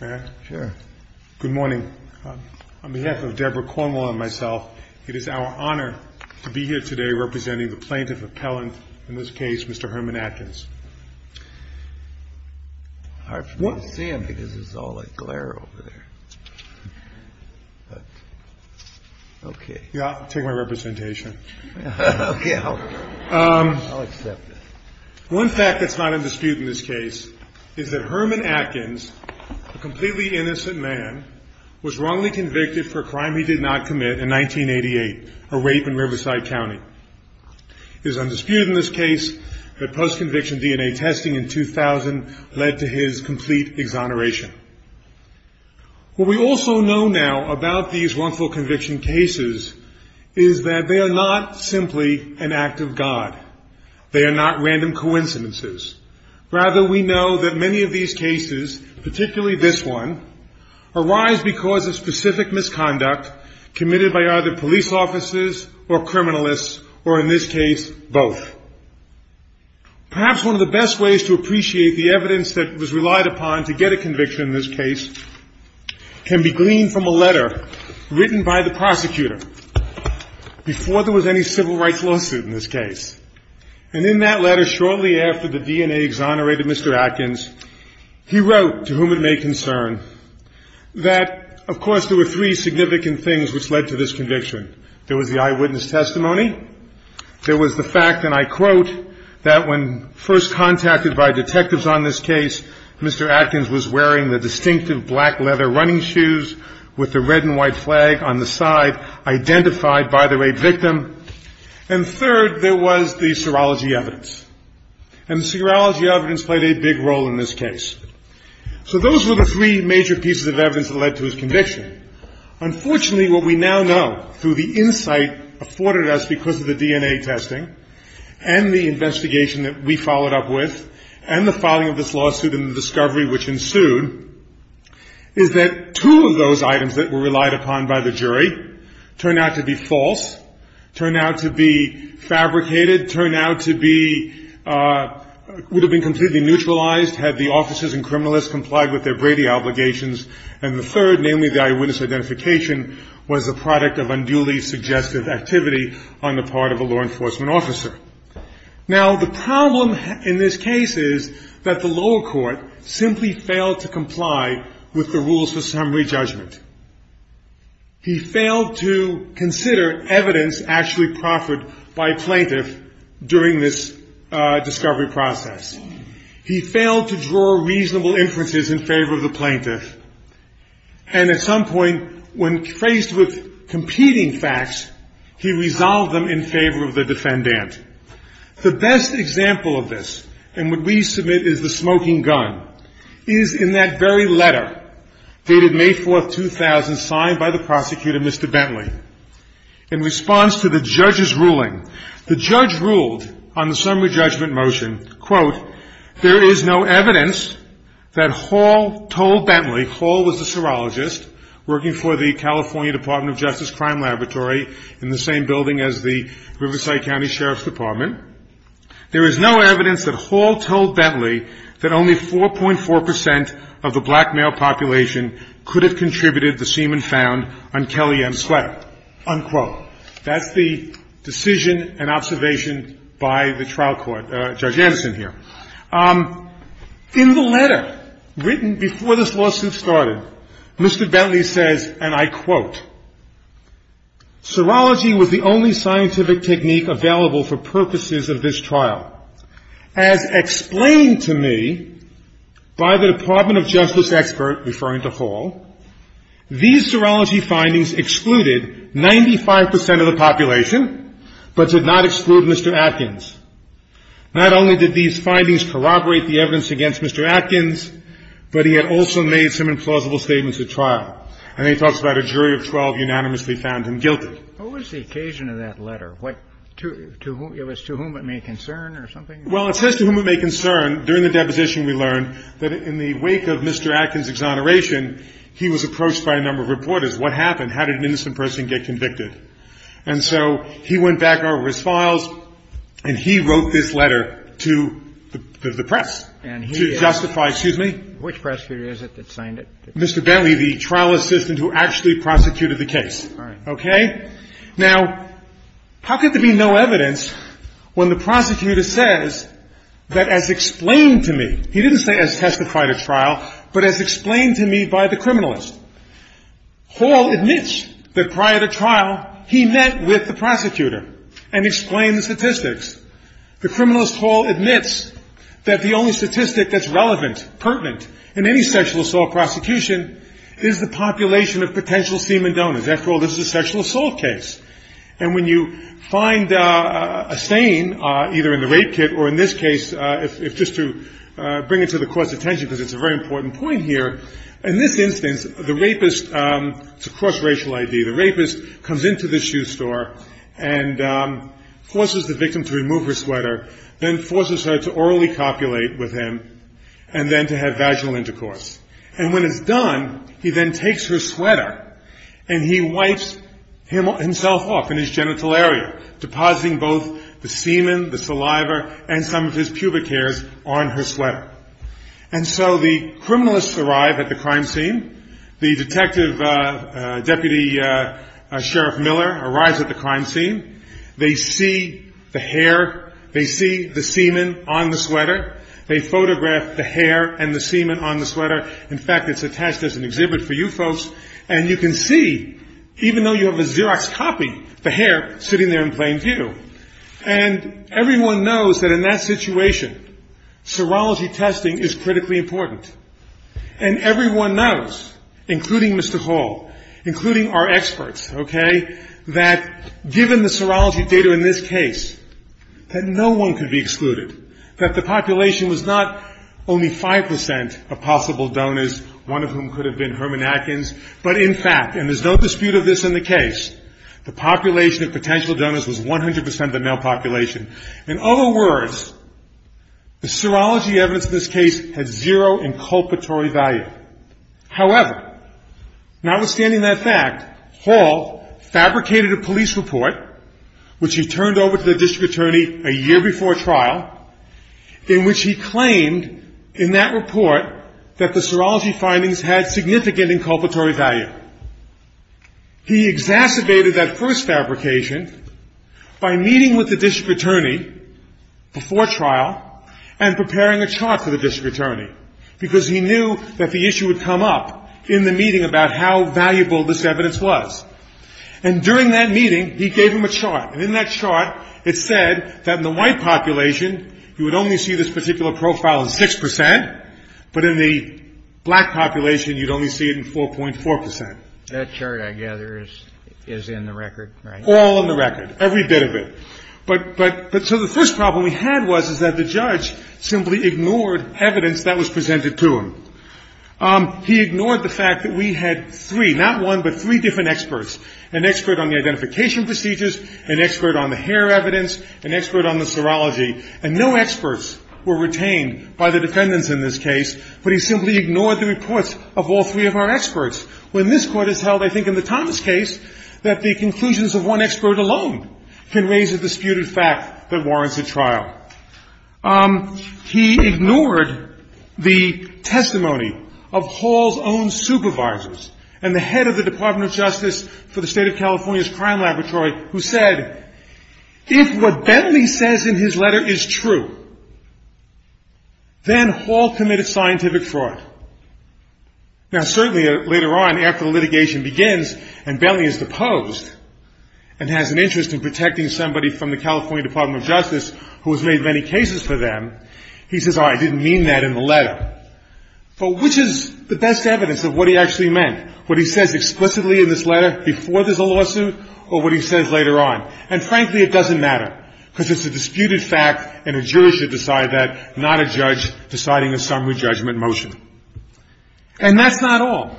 Good morning. On behalf of Deborah Cornwell and myself, it is our honor to be here today representing the plaintiff appellant, in this case, Mr. Herman Atkins. It's hard for me to see him because there's all that glare over there. I'll take my representation. I'll accept it. One fact that's not in dispute in this case is that Herman Atkins, a completely innocent man, was wrongly convicted for a crime he did not commit in 1988, a rape in Riverside County. It is undisputed in this case that post-conviction DNA testing in 2000 led to his complete exoneration. What we also know now about these wrongful conviction cases is that they are not simply an act of God. They are not random coincidences. Rather, we know that many of these cases, particularly this one, arise because of specific misconduct committed by either police officers or criminalists, or in this case, both. Perhaps one of the best ways to appreciate the evidence that was relied upon to get a conviction in this case can be gleaned from a letter written by the prosecutor before there was any civil rights lawsuit in this case. And in that letter, shortly after the DNA exonerated Mr. Atkins, he wrote, to whom it may concern, that, of course, there were three significant things which led to this conviction. There was the eyewitness testimony. There was the fact, and I quote, that when first contacted by detectives on this case, Mr. Atkins was wearing the distinctive black leather running shoes with the red and white flag on the side identified by the rape victim. And third, there was the serology evidence. And the serology evidence played a big role in this case. So those were the three major pieces of evidence that led to his conviction. Unfortunately, what we now know through the insight afforded us because of the DNA testing and the investigation that we followed up with and the filing of this lawsuit and the discovery which ensued, is that two of those items that were relied upon by the jury turned out to be false, turned out to be fabricated, turned out to be – would have been completely neutralized had the officers and criminalists complied with their Brady obligations. And the third, namely the eyewitness identification, was the product of unduly suggestive activity on the part of a law enforcement officer. Now, the problem in this case is that the lower court simply failed to comply with the rules for summary judgment. He failed to consider evidence actually proffered by a plaintiff during this discovery process. He failed to draw reasonable inferences in favor of the plaintiff. And at some point, when faced with competing facts, he resolved them in favor of the defendant. The best example of this, and what we submit is the smoking gun, is in that very letter dated May 4, 2000, signed by the prosecutor, Mr. Bentley. In response to the judge's ruling, the judge ruled on the summary judgment motion, quote, there is no evidence that Hall told Bentley – Hall was a serologist working for the California Department of Justice Crime Laboratory in the same building as the Riverside County Sheriff's Department – there is no evidence that Hall told Bentley that only 4.4 percent of the black male population could have contributed the semen found on Kelly M's sweater, unquote. That's the decision and observation by the trial court. Judge Anderson here. In the letter written before this lawsuit started, Mr. Bentley says, and I quote, serology was the only scientific technique available for purposes of this trial. As explained to me by the Department of Justice expert referring to Hall, these serology findings excluded 95 percent of the population, but did not exclude Mr. Atkins. Not only did these findings corroborate the evidence against Mr. Atkins, but he had also made some implausible statements at trial. And then he talks about a jury of 12 unanimously found him guilty. What was the occasion of that letter? To whom it may concern or something? Well, it says to whom it may concern. During the deposition, we learned that in the wake of Mr. Atkins' exoneration, he was approached by a number of reporters. What happened? How did an innocent person get convicted? And so he went back over his files, and he wrote this letter to the press to justify – excuse me? Which prosecutor is it that signed it? Mr. Bentley, the trial assistant who actually prosecuted the case. All right. Okay? Now, how could there be no evidence when the prosecutor says that as explained to me – he didn't say as testified at trial, but as explained to me by the criminalist. Hall admits that prior to trial, he met with the prosecutor and explained the statistics. The criminalist Hall admits that the only statistic that's relevant, pertinent, in any sexual assault prosecution is the population of potential semen donors. After all, this is a sexual assault case. And when you find a stain, either in the rape kit or in this case, if just to bring it to the court's attention because it's a very important point here, in this instance, the rapist – it's a cross-racial ID – the rapist comes into the shoe store and forces the victim to remove her sweater, then forces her to orally copulate with him, and then to have vaginal intercourse. And when it's done, he then takes her sweater and he wipes himself off in his genital area, depositing both the semen, the saliva, and some of his pubic hairs on her sweater. And so the criminalists arrive at the crime scene. The detective, Deputy Sheriff Miller, arrives at the crime scene. They see the hair. They see the semen on the sweater. They photograph the hair and the semen on the sweater. In fact, it's attached as an exhibit for you folks. And you can see, even though you have a Xerox copy, the hair sitting there in plain view. And everyone knows that in that situation, serology testing is critically important. And everyone knows, including Mr. Hall, including our experts, okay, that given the serology data in this case, that no one could be excluded, that the population was not only 5 percent of possible donors, one of whom could have been Herman Atkins, but in fact, and there's no dispute of this in the case, the population of potential donors was 100 percent of the male population. In other words, the serology evidence in this case had zero inculpatory value. However, notwithstanding that fact, Hall fabricated a police report, which he turned over to the district attorney a year before trial, in which he claimed in that report that the serology findings had significant inculpatory value. He exacerbated that first fabrication by meeting with the district attorney before trial and preparing a chart for the district attorney, because he knew that the issue would come up in the meeting about how valuable this evidence was. And during that meeting, he gave him a chart. And in that chart, it said that in the white population, you would only see this particular profile in 6 percent, but in the black population, you'd only see it in 4.4 percent. That chart, I gather, is in the record, right? All in the record, every bit of it. But so the first problem we had was that the judge simply ignored evidence that was presented to him. He ignored the fact that we had three, not one, but three different experts, an expert on the identification procedures, an expert on the hair evidence, an expert on the serology. And no experts were retained by the defendants in this case, but he simply ignored the reports of all three of our experts. When this Court has held, I think, in the Thomas case, that the conclusions of one expert alone can raise a disputed fact that warrants a trial. He ignored the testimony of Hall's own supervisors and the head of the Department of Justice for the State of California's Crime Laboratory, who said, if what Bentley says in his letter is true, then Hall committed scientific fraud. Now, certainly, later on, after the litigation begins, and Bentley is deposed and has an interest in protecting somebody from the California Department of Justice who has made many cases for them, he says, all right, I didn't mean that in the letter. But which is the best evidence of what he actually meant, what he says explicitly in this letter before there's a lawsuit or what he says later on? And, frankly, it doesn't matter because it's a disputed fact and a jury should decide that, not a judge deciding a summary judgment motion. And that's not all.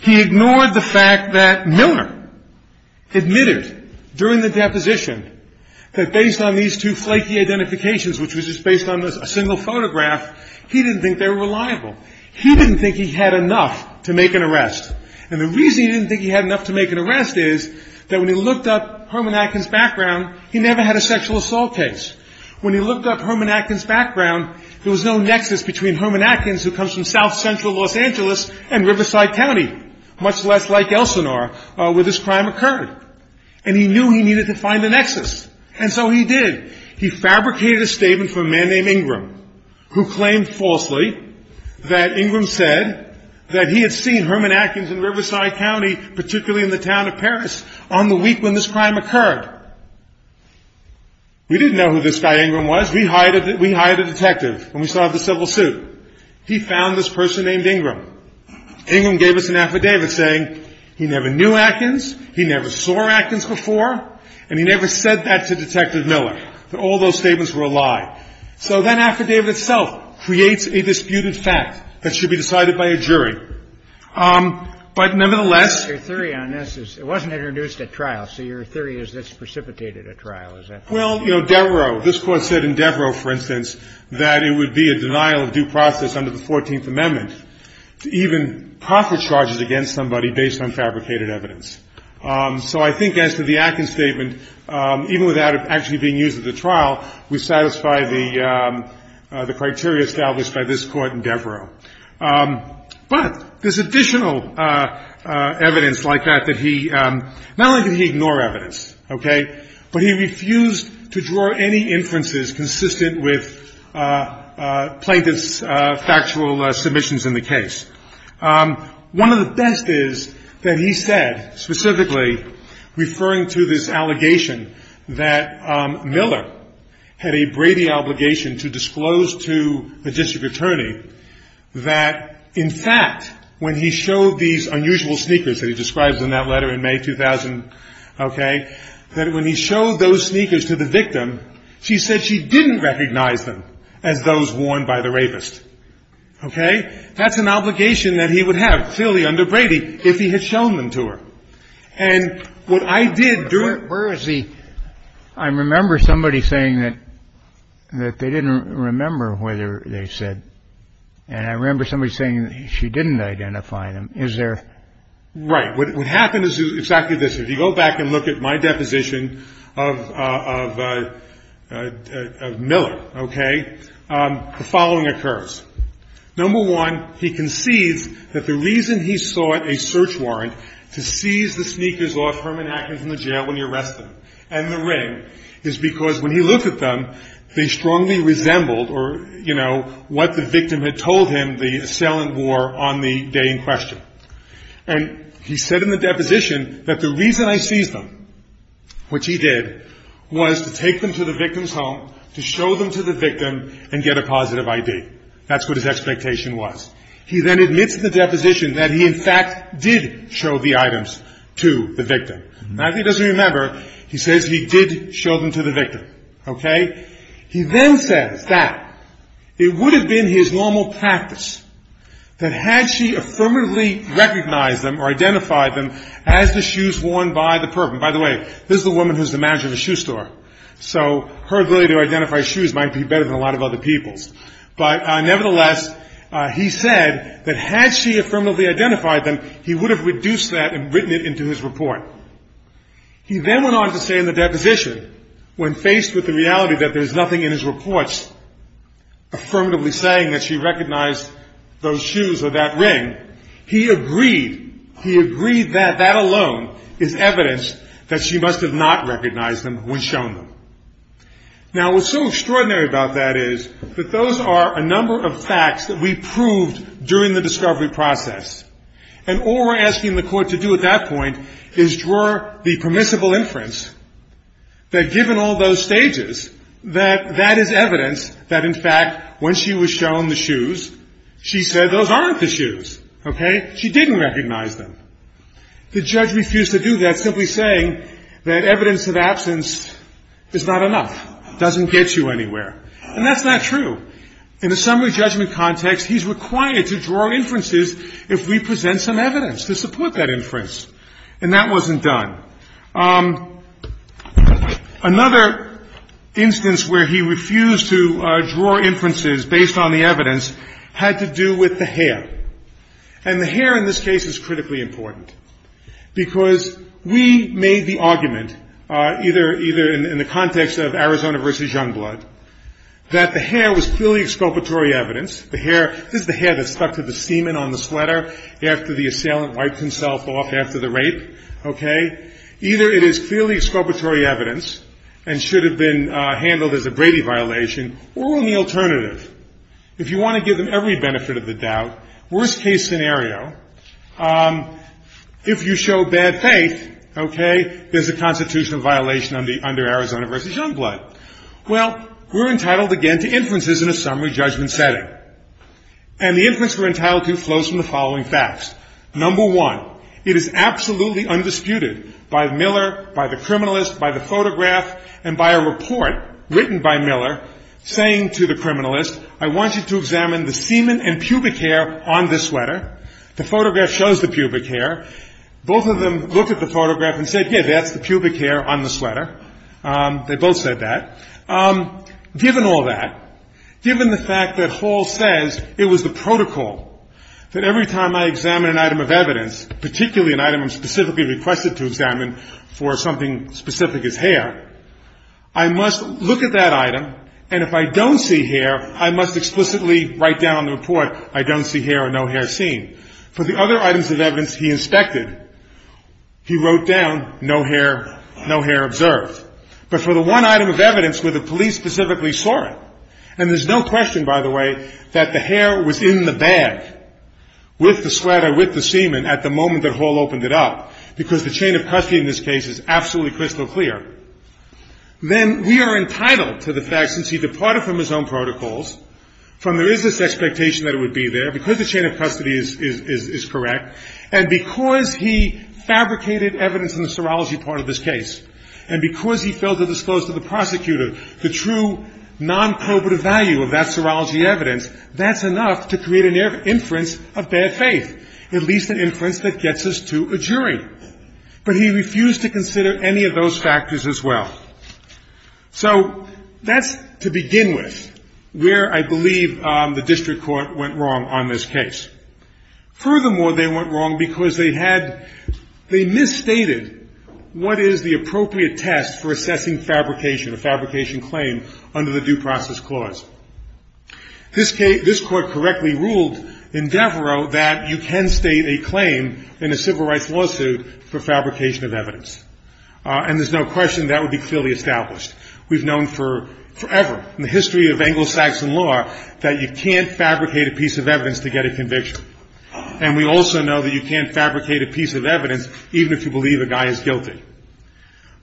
He ignored the fact that Milner admitted during the deposition that based on these two flaky identifications, which was just based on a single photograph, he didn't think they were reliable. He didn't think he had enough to make an arrest. And the reason he didn't think he had enough to make an arrest is that when he looked up Herman Atkins' background, he never had a sexual assault case. When he looked up Herman Atkins' background, there was no nexus between Herman Atkins, who comes from south-central Los Angeles, and Riverside County, much less like Elsinore, where this crime occurred. And he knew he needed to find a nexus, and so he did. He fabricated a statement from a man named Ingram, who claimed falsely that Ingram said that he had seen Herman Atkins in Riverside County, particularly in the town of Paris, on the week when this crime occurred. We didn't know who this guy Ingram was. We hired a detective when we saw the civil suit. He found this person named Ingram. Ingram gave us an affidavit saying he never knew Atkins, he never saw Atkins before, and he never said that to Detective Miller, that all those statements were a lie. So that affidavit itself creates a disputed fact that should be decided by a jury. But, nevertheless, Your theory on this is it wasn't introduced at trial, so your theory is it's precipitated at trial, is that correct? Well, you know, Devereaux, this Court said in Devereaux, for instance, that it would be a denial of due process under the 14th Amendment to even profit charges against somebody based on fabricated evidence. So I think as to the Atkins statement, even without it actually being used at the trial, we satisfy the criteria established by this Court in Devereaux. But there's additional evidence like that that he not only did he ignore evidence, okay, but he refused to draw any inferences consistent with plaintiff's factual submissions in the case. One of the best is that he said specifically, referring to this allegation that Miller had a Brady obligation to disclose to a district attorney that, in fact, when he showed these unusual sneakers that he described in that letter in May 2000, okay, that when he showed those sneakers to the victim, she said she didn't recognize them as those worn by the rapist. Okay? That's an obligation that he would have, clearly, under Brady, if he had shown them to her. And what I did during... But where is the... I remember somebody saying that they didn't remember whether they said, and I remember somebody saying she didn't identify them. Is there... Right. What happened is exactly this. If you go back and look at my deposition of Miller, okay, the following occurs. Number one, he concedes that the reason he sought a search warrant to seize the sneakers off Herman Atkins in the jail when he arrested them and the ring is because when he looked at them, they strongly resembled or, you know, what the victim had told him the assailant wore on the day in question. And he said in the deposition that the reason I seized them, which he did, was to take them to the victim's home, to show them to the victim, and get a positive ID. That's what his expectation was. He then admits in the deposition that he, in fact, did show the items to the victim. Now, if he doesn't remember, he says he did show them to the victim. Okay? He then says that it would have been his normal practice that had she affirmatively recognized them or identified them as the shoes worn by the person. By the way, this is a woman who's the manager of a shoe store, so her ability to identify shoes might be better than a lot of other people's. But nevertheless, he said that had she affirmatively identified them, he would have reduced that and written it into his report. He then went on to say in the deposition, when faced with the reality that there's nothing in his reports affirmatively saying that she recognized those shoes or that ring, he agreed, he agreed that that alone is evidence that she must have not recognized them when shown them. Now, what's so extraordinary about that is that those are a number of facts that we proved during the discovery process. And all we're asking the court to do at that point is draw the permissible inference that given all those stages, that that is evidence that, in fact, when she was shown the shoes, she said those aren't the shoes. Okay? She didn't recognize them. The judge refused to do that, simply saying that evidence of absence is not enough, doesn't get you anywhere. And that's not true. In a summary judgment context, he's required to draw inferences if we present some evidence to support that inference. And that wasn't done. Another instance where he refused to draw inferences based on the evidence had to do with the hair. And the hair in this case is critically important, because we made the argument, either in the context of Arizona v. Youngblood, that the hair was clearly exculpatory evidence. The hair, this is the hair that stuck to the semen on the sweater after the assailant wiped himself off after the rape. Okay? Either it is clearly exculpatory evidence and should have been handled as a Brady violation, or the alternative. If you want to give them every benefit of the doubt, worst-case scenario, if you show bad faith, okay, there's a constitutional violation under Arizona v. Youngblood. Well, we're entitled again to inferences in a summary judgment setting. And the inference we're entitled to flows from the following facts. Number one, it is absolutely undisputed by Miller, by the criminalist, by the photograph, and by a report written by Miller saying to the criminalist, I want you to examine the semen and pubic hair on this sweater. The photograph shows the pubic hair. Both of them looked at the photograph and said, yeah, that's the pubic hair on the sweater. They both said that. Given all that, given the fact that Hall says it was the protocol that every time I examine an item of evidence, particularly an item I'm specifically requested to examine for something specific as hair, I must look at that item, and if I don't see hair, I must explicitly write down on the report, I don't see hair or no hair seen. For the other items of evidence he inspected, he wrote down no hair, no hair observed. But for the one item of evidence where the police specifically saw it, and there's no question, by the way, that the hair was in the bag with the sweater, with the semen at the moment that Hall opened it up, because the chain of custody in this case is absolutely crystal clear, then we are entitled to the fact, since he departed from his own protocols, from there is this expectation that it would be there, because the chain of custody is correct, and because he fabricated evidence in the serology part of this case, and because he failed to disclose to the prosecutor the true non-probative value of that serology evidence, that's enough to create an inference of bad faith, at least an inference that gets us to a jury. But he refused to consider any of those factors as well. So that's to begin with where I believe the district court went wrong on this case. Furthermore, they went wrong because they had, they misstated what is the appropriate test for assessing fabrication, a fabrication claim under the due process clause. This court correctly ruled in Devereaux that you can state a claim in a civil rights lawsuit for fabrication of evidence, and there's no question that would be clearly established. We've known forever in the history of Anglo-Saxon law that you can't fabricate a piece of evidence to get a conviction, and we also know that you can't fabricate a piece of evidence even if you believe a guy is guilty.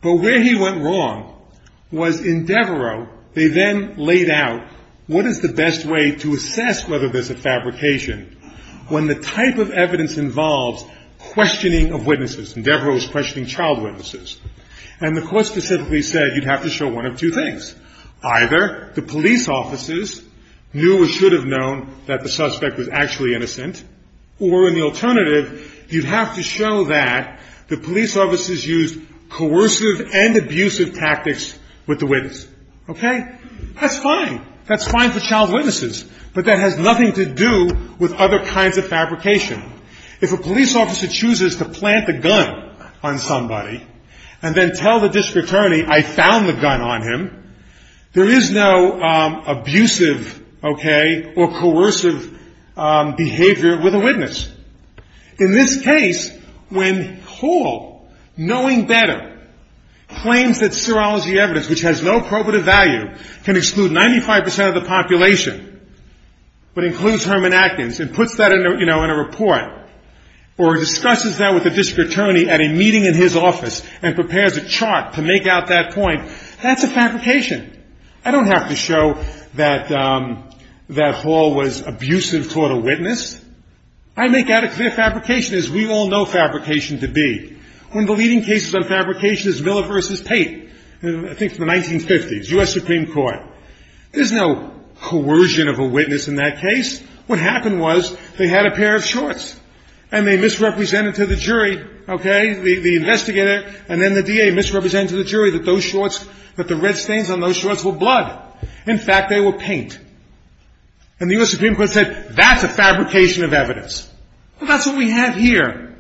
But where he went wrong was in Devereaux, they then laid out what is the best way to assess whether there's a fabrication when the type of evidence involves questioning of witnesses, and Devereaux was questioning child witnesses. And the court specifically said you'd have to show one of two things. Either the police officers knew or should have known that the suspect was actually innocent, or an alternative, you'd have to show that the police officers used coercive and abusive tactics with the witness. Okay? That's fine. That's fine for child witnesses, but that has nothing to do with other kinds of fabrication. If a police officer chooses to plant a gun on somebody and then tell the district attorney, I found the gun on him, there is no abusive, okay, or coercive behavior with a witness. In this case, when Hall, knowing better, claims that serology evidence, which has no probative value, can exclude 95 percent of the population, but includes Herman Atkins and puts that in a report, or discusses that with the district attorney at a meeting in his office and prepares a chart to make out that point, that's a fabrication. I don't have to show that Hall was abusive toward a witness. I make out a clear fabrication, as we all know fabrication to be. One of the leading cases on fabrication is Miller v. Pate, I think from the 1950s, U.S. Supreme Court. There's no coercion of a witness in that case. What happened was they had a pair of shorts, and they misrepresented to the jury, okay, the investigator, and then the DA misrepresented to the jury that those shorts, that the red stains on those shorts were blood. In fact, they were paint. And the U.S. Supreme Court said that's a fabrication of evidence. Well, that's what we have here.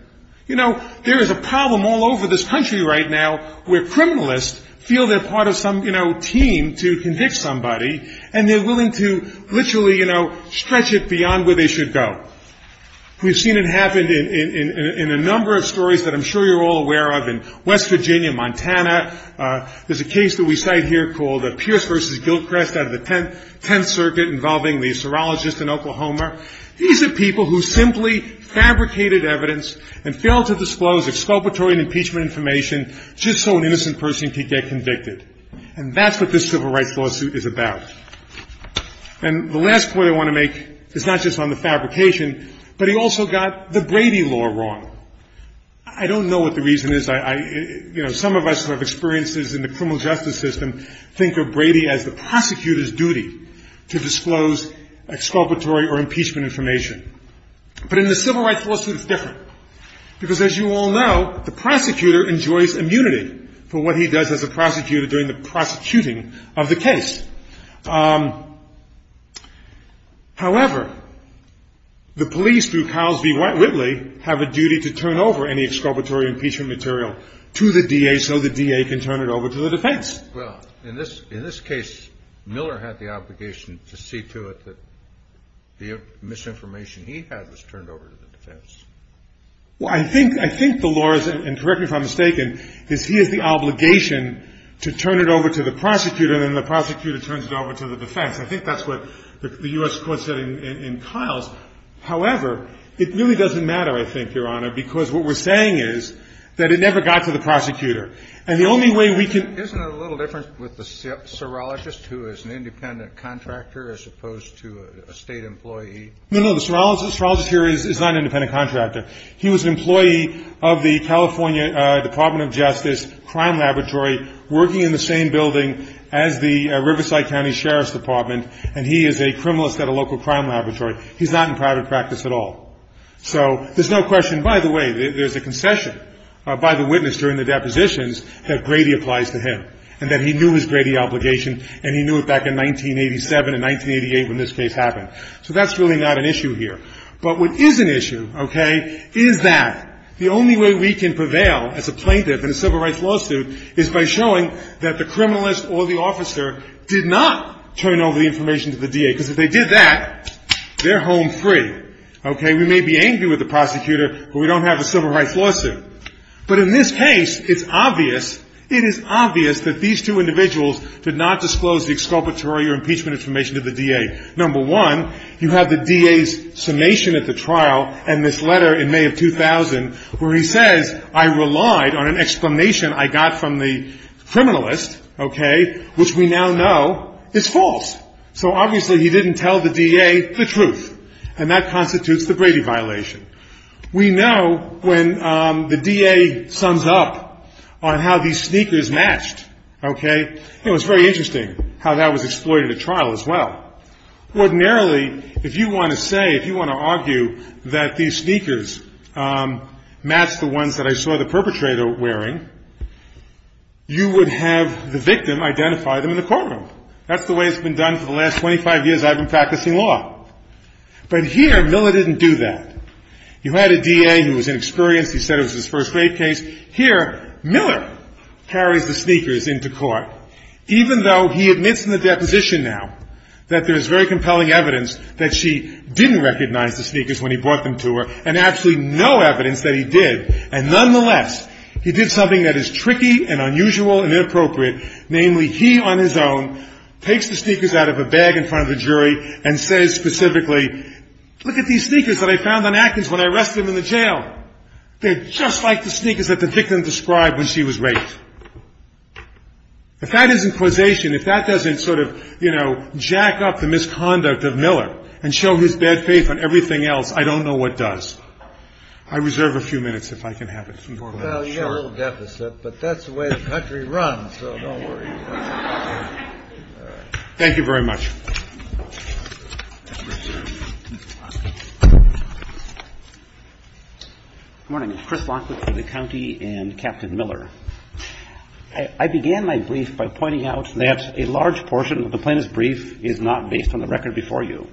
You know, there is a problem all over this country right now where criminalists feel they're part of some, you know, team to convict somebody, and they're willing to literally, you know, stretch it beyond where they should go. We've seen it happen in a number of stories that I'm sure you're all aware of in West Virginia, Montana. There's a case that we cite here called Pierce v. Gilchrist out of the 10th Circuit involving the serologist in Oklahoma. These are people who simply fabricated evidence and failed to disclose exculpatory impeachment information just so an innocent person could get convicted. And that's what this civil rights lawsuit is about. And the last point I want to make is not just on the fabrication, but he also got the Brady law wrong. I don't know what the reason is. You know, some of us who have experiences in the criminal justice system think of Brady as the prosecutor's duty to disclose exculpatory or impeachment information. But in the civil rights lawsuit, it's different, because as you all know, the prosecutor enjoys immunity for what he does as a prosecutor during the prosecuting of the case. However, the police, through Carlsby Whitley, have a duty to turn over any exculpatory impeachment material to the D.A. so the D.A. can turn it over to the defense. Well, in this case, Miller had the obligation to see to it that the misinformation he had was turned over to the defense. Well, I think the law is, and correct me if I'm mistaken, is he has the obligation to turn it over to the prosecutor, and then the prosecutor turns it over to the defense. I think that's what the U.S. court said in Kyles. However, it really doesn't matter, I think, Your Honor, because what we're saying is that it never got to the prosecutor. And the only way we can — Isn't it a little different with the serologist who is an independent contractor as opposed to a State employee? No, no. The serologist here is not an independent contractor. He was an employee of the California Department of Justice Crime Laboratory, working in the same building as the Riverside County Sheriff's Department. And he is a criminalist at a local crime laboratory. He's not in private practice at all. So there's no question, by the way, there's a concession by the witness during the depositions that Grady applies to him, and that he knew his Grady obligation, and he knew it back in 1987 and 1988 when this case happened. So that's really not an issue here. But what is an issue, okay, is that the only way we can prevail as a plaintiff in a civil rights lawsuit is by showing that the criminalist or the officer did not turn over the information to the DA, because if they did that, they're home free. Okay? We may be angry with the prosecutor, but we don't have a civil rights lawsuit. But in this case, it's obvious, it is obvious that these two individuals did not disclose the exculpatory or impeachment information to the DA. Number one, you have the DA's summation at the trial and this letter in May of 2000 where he says, I relied on an explanation I got from the criminalist, okay, which we now know is false. So obviously he didn't tell the DA the truth. And that constitutes the Grady violation. We know when the DA sums up on how these sneakers matched, okay, it was very interesting how that was exploited at trial as well. Ordinarily, if you want to say, if you want to argue that these sneakers matched the ones that I saw the perpetrator wearing, you would have the victim identify them in the courtroom. That's the way it's been done for the last 25 years I've been practicing law. But here, Miller didn't do that. You had a DA who was inexperienced. He said it was his first-grade case. Here, Miller carries the sneakers into court, even though he admits in the deposition now that there is very compelling evidence that she didn't recognize the sneakers when he brought them to her and absolutely no evidence that he did. And nonetheless, he did something that is tricky and unusual and inappropriate. Namely, he on his own takes the sneakers out of a bag in front of the jury and says specifically, look at these sneakers that I found on Atkins when I arrested him in the jail. They're just like the sneakers that the victim described when she was raped. If that isn't causation, if that doesn't sort of, you know, jack up the misconduct of Miller and show his bad faith on everything else, I don't know what does. I reserve a few minutes if I can have it. Well, you have a little deficit, but that's the way the country runs, so don't worry. Thank you very much. Good morning. Chris Lockwood for the county and Captain Miller. I began my brief by pointing out that a large portion of the plaintiff's brief is not based on the record before you.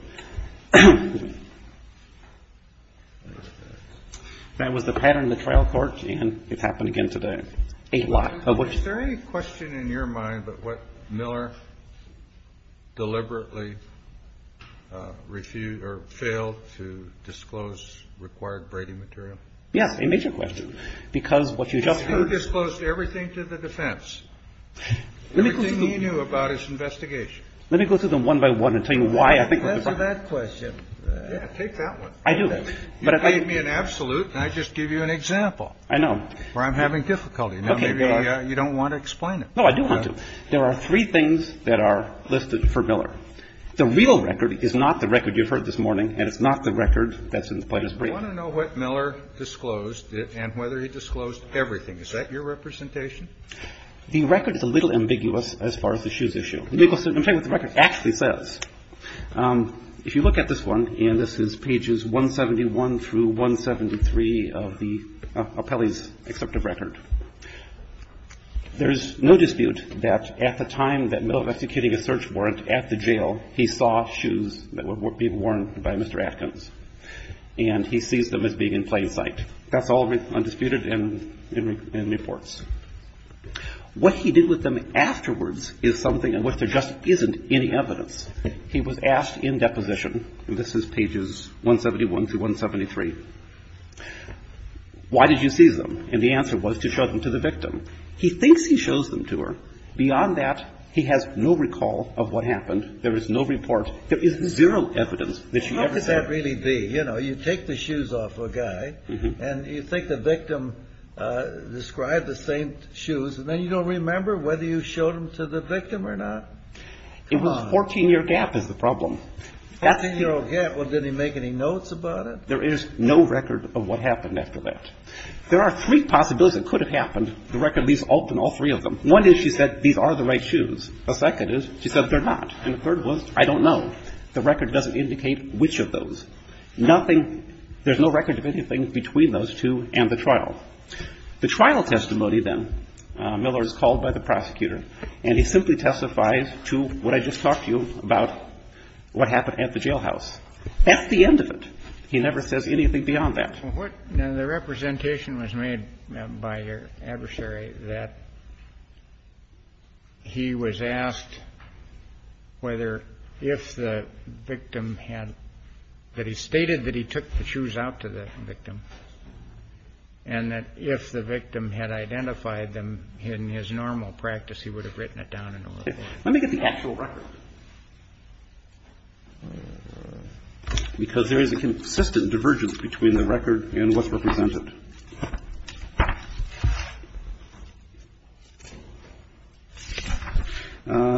That was the pattern in the trial court, and it happened again today. Is there any question in your mind about what Miller deliberately refused or failed to disclose required Brady material? Yes, a major question. Because what you just heard. He disclosed everything to the defense. Everything he knew about his investigation. Let me go through them one by one and tell you why. I think that's a bad question. Take that one. I do. You gave me an absolute, and I just give you an example. I know. Where I'm having difficulty. You don't want to explain it. No, I do want to. There are three things that are listed for Miller. The real record is not the record you've heard this morning, and it's not the record that's in the plaintiff's brief. I want to know what Miller disclosed and whether he disclosed everything. Is that your representation? The record is a little ambiguous as far as the shoes issue. I'm telling you what the record actually says. If you look at this one, and this is pages 171 through 173 of the appellee's exceptive record, there is no dispute that at the time that Miller was executing a search warrant at the jail, he saw shoes that were being worn by Mr. Atkins, and he sees them as being in plain sight. That's all undisputed in reports. What he did with them afterwards is something in which there just isn't any evidence. He was asked in deposition, and this is pages 171 through 173, why did you see them? And the answer was to show them to the victim. He thinks he shows them to her. Beyond that, he has no recall of what happened. There is no report. There is zero evidence that she ever saw them. How could that really be? You know, you take the shoes off a guy, and you think the victim described the same shoes, and then you don't remember whether you showed them to the victim or not. It was a 14-year gap is the problem. A 14-year gap? Well, did he make any notes about it? There is no record of what happened after that. There are three possibilities it could have happened. The record leaves open all three of them. One is she said these are the right shoes. The second is she said they're not. And the third was I don't know. The record doesn't indicate which of those. Nothing, there's no record of anything between those two and the trial. The trial testimony then, Miller is called by the prosecutor, and he simply testifies to what I just talked to you about what happened at the jailhouse. That's the end of it. He never says anything beyond that. Well, what the representation was made by your adversary that he was asked whether if the victim had that he stated that he took the shoes out to the victim, and that if the victim had identified them in his normal practice, he would have written it down in order. Let me get the actual record. Because there is a consistent divergence between the record and what's represented.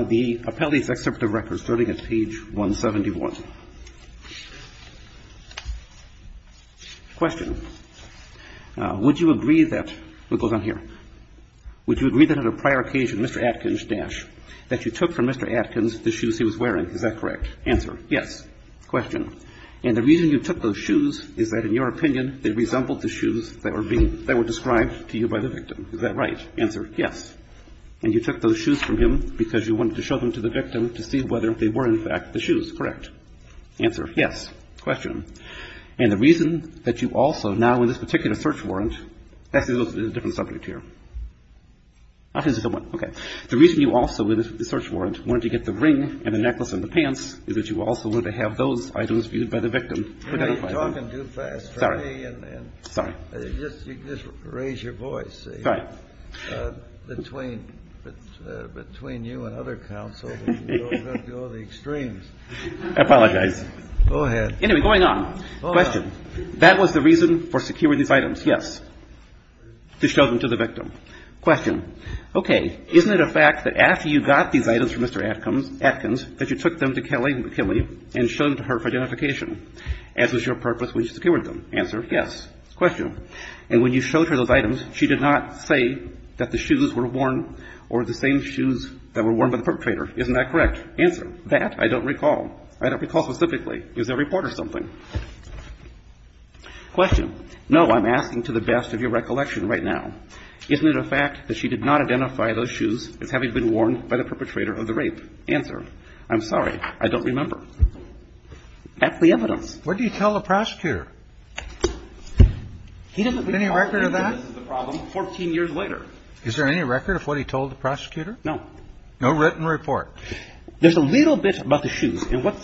The appellee's excerpt of record starting at page 171. Question. Would you agree that, what goes on here, would you agree that at a prior occasion, that you took from Mr. Atkins the shoes he was wearing? Is that correct? Answer. Yes. Question. And the reason you took those shoes is that, in your opinion, they resembled the shoes that were described to you by the victim. Is that right? Answer. Yes. And you took those shoes from him because you wanted to show them to the victim to see whether they were, in fact, the shoes. Correct. Answer. Question. And the reason that you also now in this particular search warrant, that's a different subject here. Okay. The reason you also in this search warrant wanted to get the ring and the necklace and the pants is that you also wanted to have those items viewed by the victim. You're talking too fast for me. Sorry. Sorry. Just raise your voice. Sorry. Between you and other counsel, we're going to go to the extremes. I apologize. Go ahead. Anyway, going on. Question. That was the reason for securing these items. Yes. To show them to the victim. Question. Okay. Isn't it a fact that after you got these items from Mr. Atkins that you took them to Kelly and showed them to her for identification, as was your purpose when you secured them? Answer. Yes. Question. And when you showed her those items, she did not say that the shoes were worn or the same shoes that were worn by the perpetrator. Isn't that correct? Answer. That I don't recall. I don't recall specifically. Is there a report or something? Question. No. I'm asking to the best of your recollection right now. Isn't it a fact that she did not identify those shoes as having been worn by the perpetrator of the rape? Answer. I'm sorry. I don't remember. That's the evidence. What did you tell the prosecutor? He doesn't recall. Any record of that? 14 years later. Is there any record of what he told the prosecutor? No. No written report. There's a little bit about the shoes. And what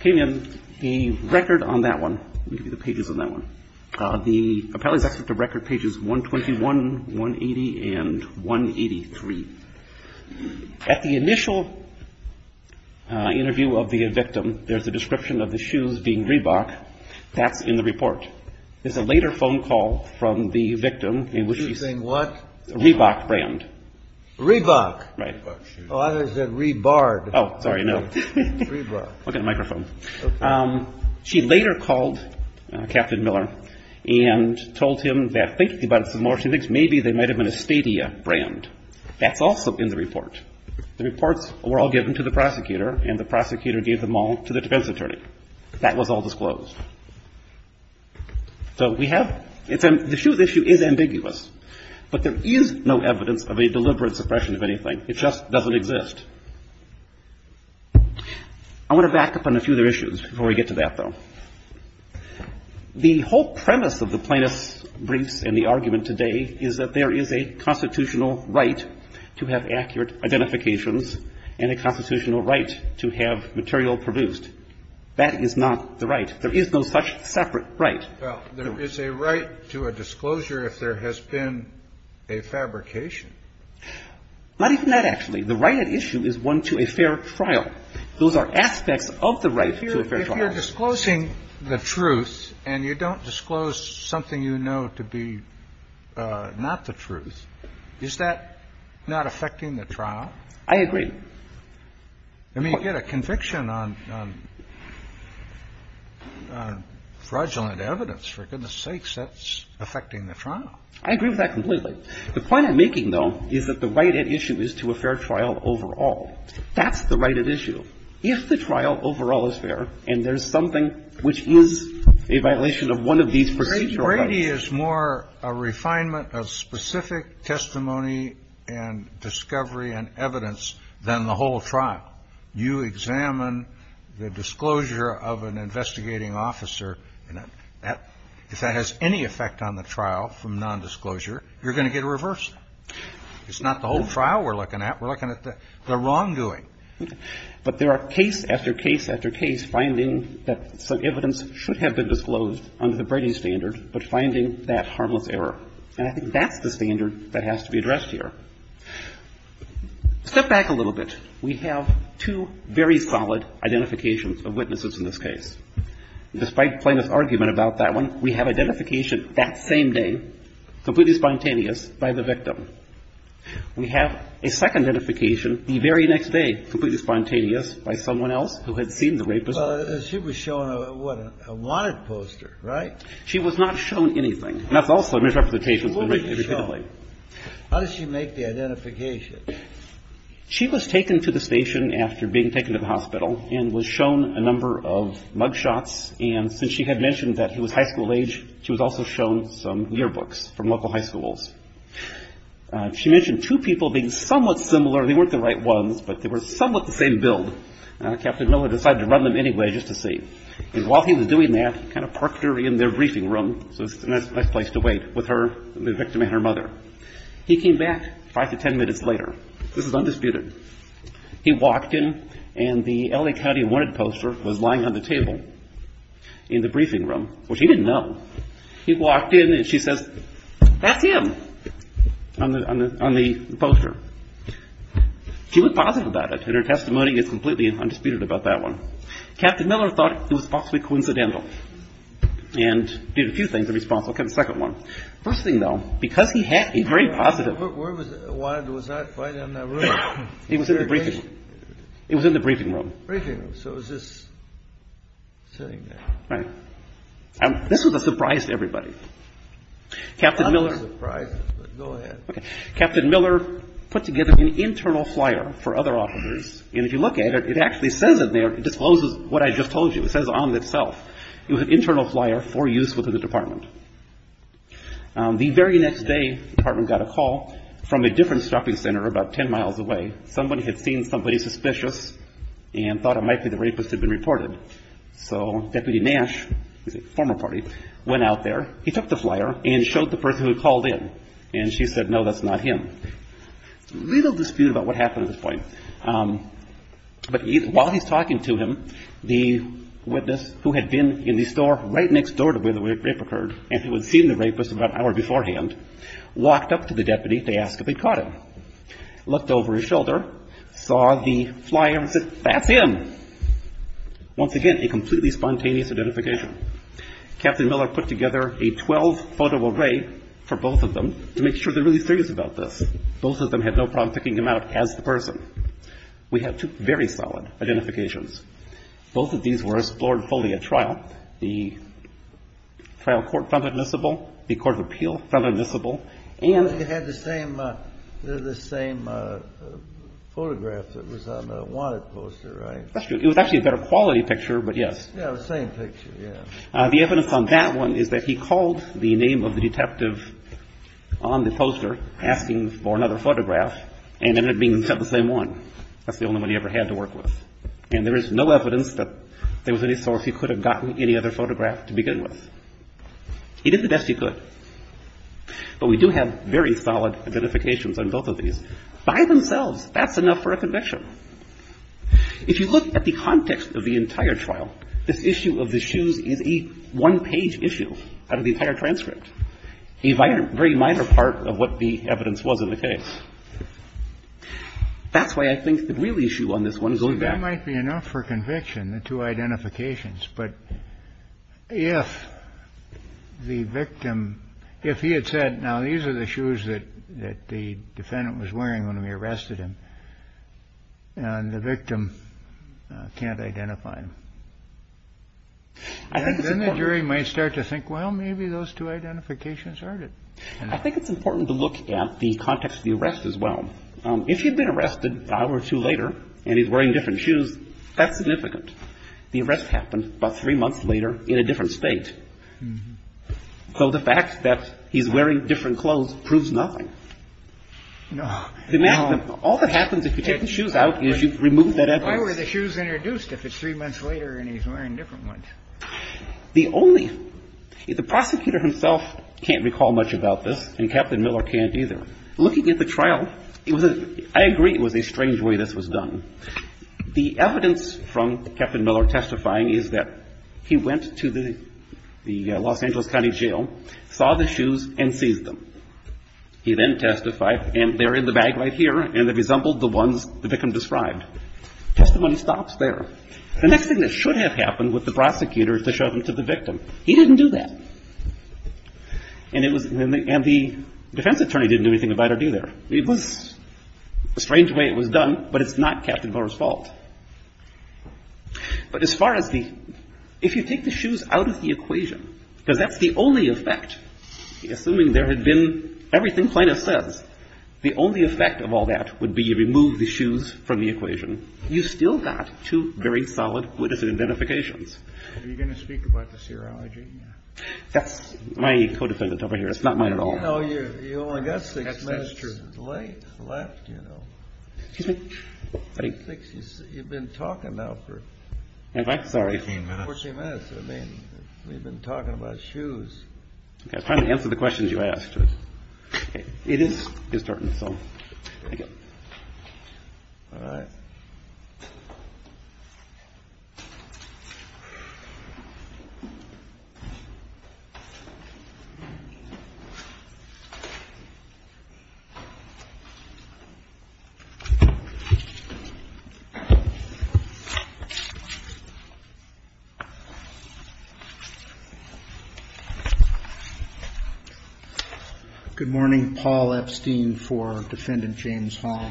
came in the record on that one, maybe the pages on that one, the appellee's records, the record pages 121, 180, and 183. At the initial interview of the victim, there's a description of the shoes being Reebok. That's in the report. There's a later phone call from the victim in which she's saying what? Reebok brand. Reebok. Right. Oh, I thought you said rebarred. Oh, sorry. No. Reebok. Look at the microphone. Okay. She later called Captain Miller and told him that thinking about it some more, she thinks maybe they might have been a Stadia brand. That's also in the report. The reports were all given to the prosecutor, and the prosecutor gave them all to the defense attorney. That was all disclosed. So we have the shoes issue is ambiguous. But there is no evidence of a deliberate suppression of anything. It just doesn't exist. I want to back up on a few other issues before we get to that, though. The whole premise of the plaintiff's briefs and the argument today is that there is a constitutional right to have accurate identifications and a constitutional right to have material produced. That is not the right. There is no such separate right. Well, there is a right to a disclosure if there has been a fabrication. Not even that, actually. The right at issue is one to a fair trial. Those are aspects of the right to a fair trial. If you're disclosing the truth and you don't disclose something you know to be not the truth, is that not affecting the trial? I agree. I mean, you get a conviction on fraudulent evidence. For goodness sakes, that's affecting the trial. I agree with that completely. The point I'm making, though, is that the right at issue is to a fair trial overall. That's the right at issue. If the trial overall is fair and there's something which is a violation of one of these procedural rights. Brady is more a refinement of specific testimony and discovery and evidence than the whole trial. You examine the disclosure of an investigating officer. If that has any effect on the trial from nondisclosure, you're going to get a reversal. It's not the whole trial we're looking at. We're looking at the wrongdoing. But there are case after case after case finding that some evidence should have been disclosed under the Brady standard, but finding that harmless error. And I think that's the standard that has to be addressed here. Step back a little bit. We have two very solid identifications of witnesses in this case. Despite plaintiff's argument about that one, we have identification that same day, completely spontaneous, by the victim. We have a second identification the very next day, completely spontaneous, by someone else who had seen the rapist. Well, she was shown, what, a wanted poster, right? She was not shown anything. And that's also a misrepresentation of the rapist. How did she make the identification? She was taken to the station after being taken to the hospital and was shown a number of mug shots. And since she had mentioned that he was high school age, she was also shown some yearbooks from local high schools. She mentioned two people being somewhat similar. They weren't the right ones, but they were somewhat the same build. Captain Miller decided to run them anyway just to see. And while he was doing that, he kind of parked her in their briefing room. So it's a nice place to wait with her, the victim, and her mother. He came back five to ten minutes later. This is undisputed. He walked in, and the L.A. County wanted poster was lying on the table in the briefing room, which he didn't know. He walked in, and she says, that's him on the poster. She was positive about it, and her testimony is completely undisputed about that one. Captain Miller thought it was possibly coincidental and did a few things in response. I'll get a second one. First thing, though, because he's very positive. Where was it? It was not quite in that room. It was in the briefing room. It was in the briefing room. So it was just sitting there. Right. This was a surprise to everybody. Not a surprise, but go ahead. Captain Miller put together an internal flyer for other officers. And if you look at it, it actually says it there. It discloses what I just told you. It says on itself. It was an internal flyer for use within the department. The very next day, the department got a call from a different shopping center about ten miles away. Somebody had seen somebody suspicious and thought it might be the rapist had been reported. So Deputy Nash, the former party, went out there. He took the flyer and showed the person who had called in, and she said, no, that's not him. Little dispute about what happened at this point. But while he's talking to him, the witness who had been in the store right next door to where the rape occurred, and who had seen the rapist about an hour beforehand, walked up to the deputy to ask if they'd caught him, looked over his shoulder, saw the flyer and said, that's him. Once again, a completely spontaneous identification. Captain Miller put together a 12-photo array for both of them to make sure they're really serious about this. Both of them had no problem picking him out as the person. We have two very solid identifications. Both of these were explored fully at trial. The trial court found admissible. The court of appeal found admissible. And they had the same photograph that was on the wanted poster, right? That's true. It was actually a better quality picture, but yes. Yeah, the same picture, yeah. The evidence on that one is that he called the name of the detective on the poster asking for another photograph, and ended up being sent the same one. That's the only one he ever had to work with. And there is no evidence that there was any source he could have gotten any other photograph to begin with. He did the best he could. But we do have very solid identifications on both of these. By themselves, that's enough for a conviction. If you look at the context of the entire trial, this issue of the shoes is a one-page issue out of the entire transcript, a very minor part of what the evidence was in the case. That's why I think the real issue on this one is only that. That might be enough for conviction, the two identifications. But if the victim, if he had said, now, these are the shoes that the defendant was wearing when we arrested him, and the victim can't identify him, then the jury might start to think, well, maybe those two identifications aren't it. I think it's important to look at the context of the arrest as well. If he had been arrested an hour or two later, and he's wearing different shoes, that's significant. The arrest happened about three months later in a different State. So the fact that he's wearing different clothes proves nothing. All that happens if you take the shoes out is you've removed that evidence. Why were the shoes introduced if it's three months later and he's wearing different ones? The prosecutor himself can't recall much about this, and Captain Miller can't either. Looking at the trial, I agree it was a strange way this was done. The evidence from Captain Miller testifying is that he went to the Los Angeles County Jail, saw the shoes, and seized them. He then testified, and they're in the bag right here, and they resembled the ones the victim described. Testimony stops there. The next thing that should have happened with the prosecutor is to show them to the victim. He didn't do that, and the defense attorney didn't do anything about it either. It was a strange way it was done, but it's not Captain Miller's fault. But as far as the ‑‑ if you take the shoes out of the equation, because that's the only effect, assuming there had been everything Plaintiff says, the only effect of all that would be remove the shoes from the equation. You still got two very solid witness identifications. Are you going to speak about the serology? That's my co‑defendant over here. It's not mine at all. No, you only got six minutes left, you know. Excuse me? You've been talking now for ‑‑ Have I? Sorry. 14 minutes. 14 minutes. I mean, we've been talking about shoes. I was trying to answer the questions you asked. It is starting, so thank you. All right. Good morning. Paul Epstein for Defendant James Hall.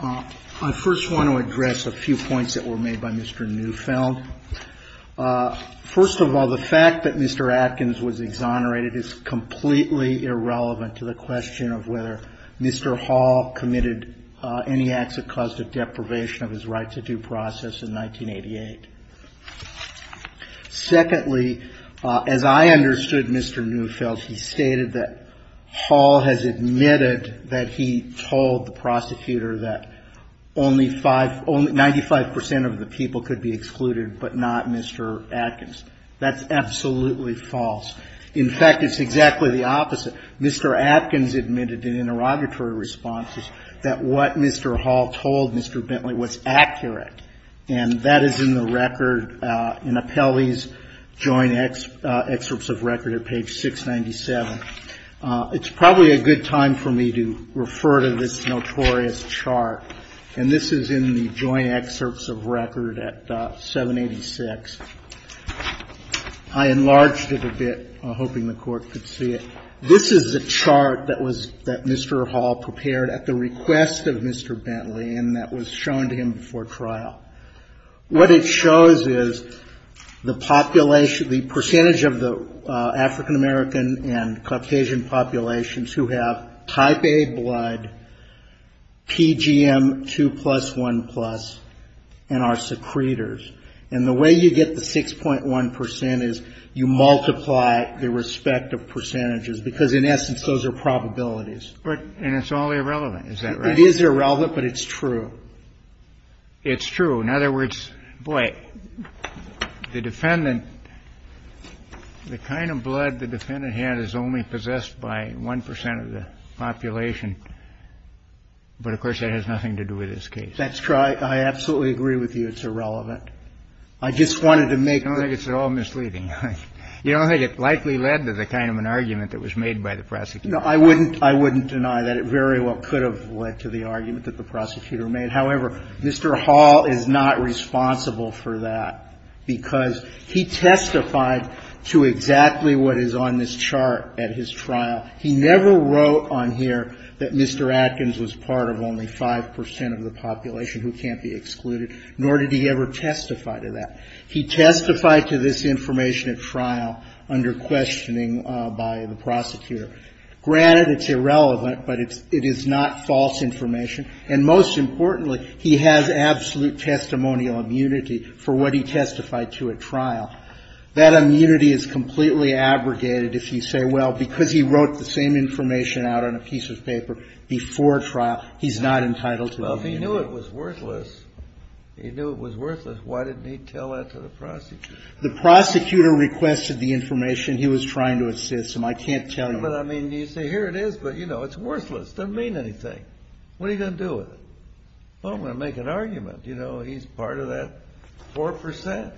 I first want to address a few points that were made by Mr. Neufeld. First of all, the fact that Mr. Atkins was exonerated is completely irrelevant to the question of whether Mr. Hall committed any acts that caused a deprivation of his right to due process in 1988. Secondly, as I understood Mr. Neufeld, he stated that Hall has admitted that he told the prosecutor that only 95% of the people could be excluded but not Mr. Atkins. That's absolutely false. In fact, it's exactly the opposite. Mr. Atkins admitted in interrogatory responses that what Mr. Hall told Mr. Bentley was accurate. And that is in the record in Apelli's joint excerpts of record at page 697. It's probably a good time for me to refer to this notorious chart. And this is in the joint excerpts of record at 786. I enlarged it a bit, hoping the Court could see it. This is the chart that was, that Mr. Hall prepared at the request of Mr. Bentley and that was shown to him before trial. What it shows is the population, the percentage of the African-American and Caucasian populations who have type A blood, PGM 2 plus 1 plus, and are secretors. And the way you get the 6.1 percent is you multiply the respective percentages, because in essence, those are probabilities. And it's all irrelevant, is that right? It is irrelevant, but it's true. It's true. In other words, boy, the defendant, the kind of blood the defendant had is only possessed by 1 percent of the population. But, of course, that has nothing to do with this case. That's right. I absolutely agree with you. It's irrelevant. I just wanted to make the point. I don't think it's at all misleading. You don't think it likely led to the kind of an argument that was made by the prosecutor? No, I wouldn't. I wouldn't deny that it very well could have led to the argument that the prosecutor made. However, Mr. Hall is not responsible for that, because he testified to exactly what is on this chart at his trial. He never wrote on here that Mr. Adkins was part of only 5 percent of the population who can't be excluded, nor did he ever testify to that. He testified to this information at trial under questioning by the prosecutor. Granted, it's irrelevant, but it is not false information. And most importantly, he has absolute testimonial immunity for what he testified to at trial. That immunity is completely abrogated if you say, well, because he wrote the same information out on a piece of paper before trial, he's not entitled to immunity. Well, if he knew it was worthless, he knew it was worthless, why didn't he tell that to the prosecutor? The prosecutor requested the information. He was trying to assist him. I can't tell you. But, I mean, you say, here it is, but, you know, it's worthless. It doesn't mean anything. What are you going to do with it? Well, I'm going to make an argument. You know, he's part of that 4 percent.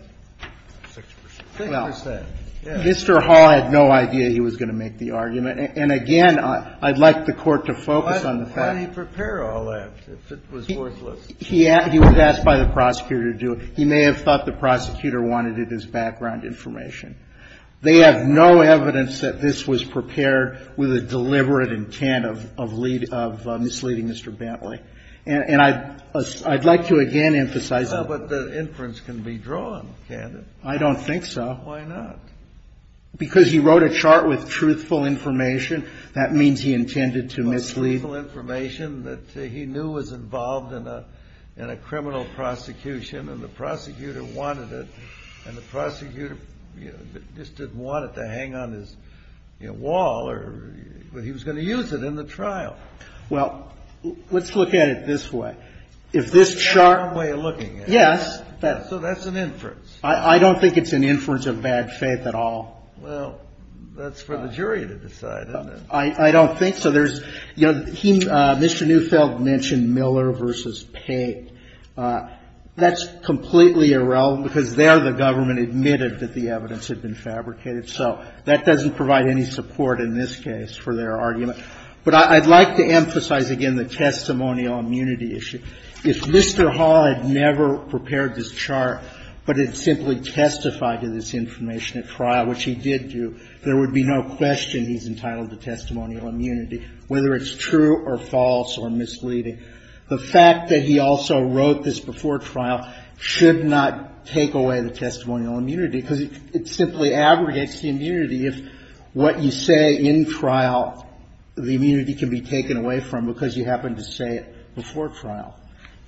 6 percent. 6 percent. Mr. Hall had no idea he was going to make the argument. And again, I'd like the Court to focus on the fact that he was asked by the prosecutor to do it. He may have thought the prosecutor wanted it as background information. They have no evidence that this was prepared with a deliberate intent of misleading Mr. Bentley. And I'd like to again emphasize that. But the inference can be drawn, can't it? I don't think so. Why not? Because he wrote a chart with truthful information. That means he intended to mislead. With truthful information that he knew was involved in a criminal prosecution. And the prosecutor wanted it. And the prosecutor, you know, just didn't want it to hang on his, you know, wall or he was going to use it in the trial. Well, let's look at it this way. If this chart. That's the wrong way of looking at it. Yes. So that's an inference. I don't think it's an inference of bad faith at all. Well, that's for the jury to decide, isn't it? I don't think so. There's, you know, he, Mr. Neufeld mentioned Miller v. Pate. That's completely irrelevant because there the government admitted that the evidence had been fabricated. So that doesn't provide any support in this case for their argument. But I'd like to emphasize again the testimonial immunity issue. If Mr. Hall had never prepared this chart but had simply testified to this information at trial, which he did do, there would be no question he's entitled to testimonial immunity, whether it's true or false or misleading. The fact that he also wrote this before trial should not take away the testimonial immunity because it simply aggregates the immunity if what you say in trial, the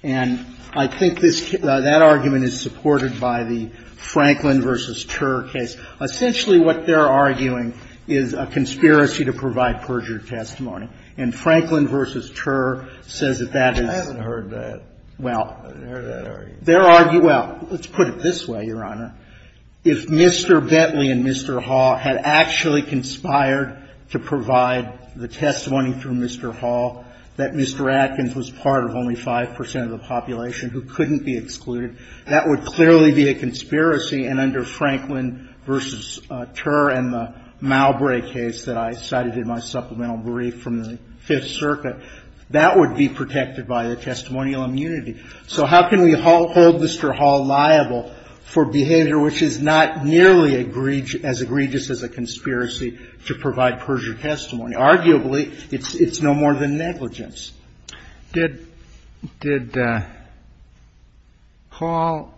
And I think this, that argument is supported by the Franklin v. Turr case. Essentially what they're arguing is a conspiracy to provide perjured testimony. And Franklin v. Turr says that that is. I haven't heard that. Well. I haven't heard that argument. Well, let's put it this way, Your Honor. If Mr. Bentley and Mr. Hall had actually conspired to provide the testimony through Mr. Hall, that Mr. Atkins was part of only 5 percent of the population who couldn't be excluded, that would clearly be a conspiracy. And under Franklin v. Turr and the Malbrae case that I cited in my supplemental brief from the Fifth Circuit, that would be protected by the testimonial immunity. So how can we hold Mr. Hall liable for behavior which is not nearly as egregious as a conspiracy to provide perjured testimony? Arguably, it's no more than negligence. Did Hall,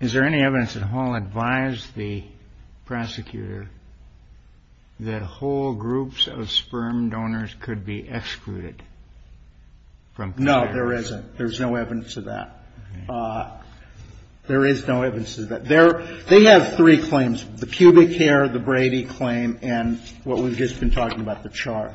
is there any evidence that Hall advised the prosecutor that whole groups of sperm donors could be excluded? No, there isn't. There's no evidence of that. There is no evidence of that. They have three claims, the pubic hair, the Brady claim, and what we've just been talking about, the char.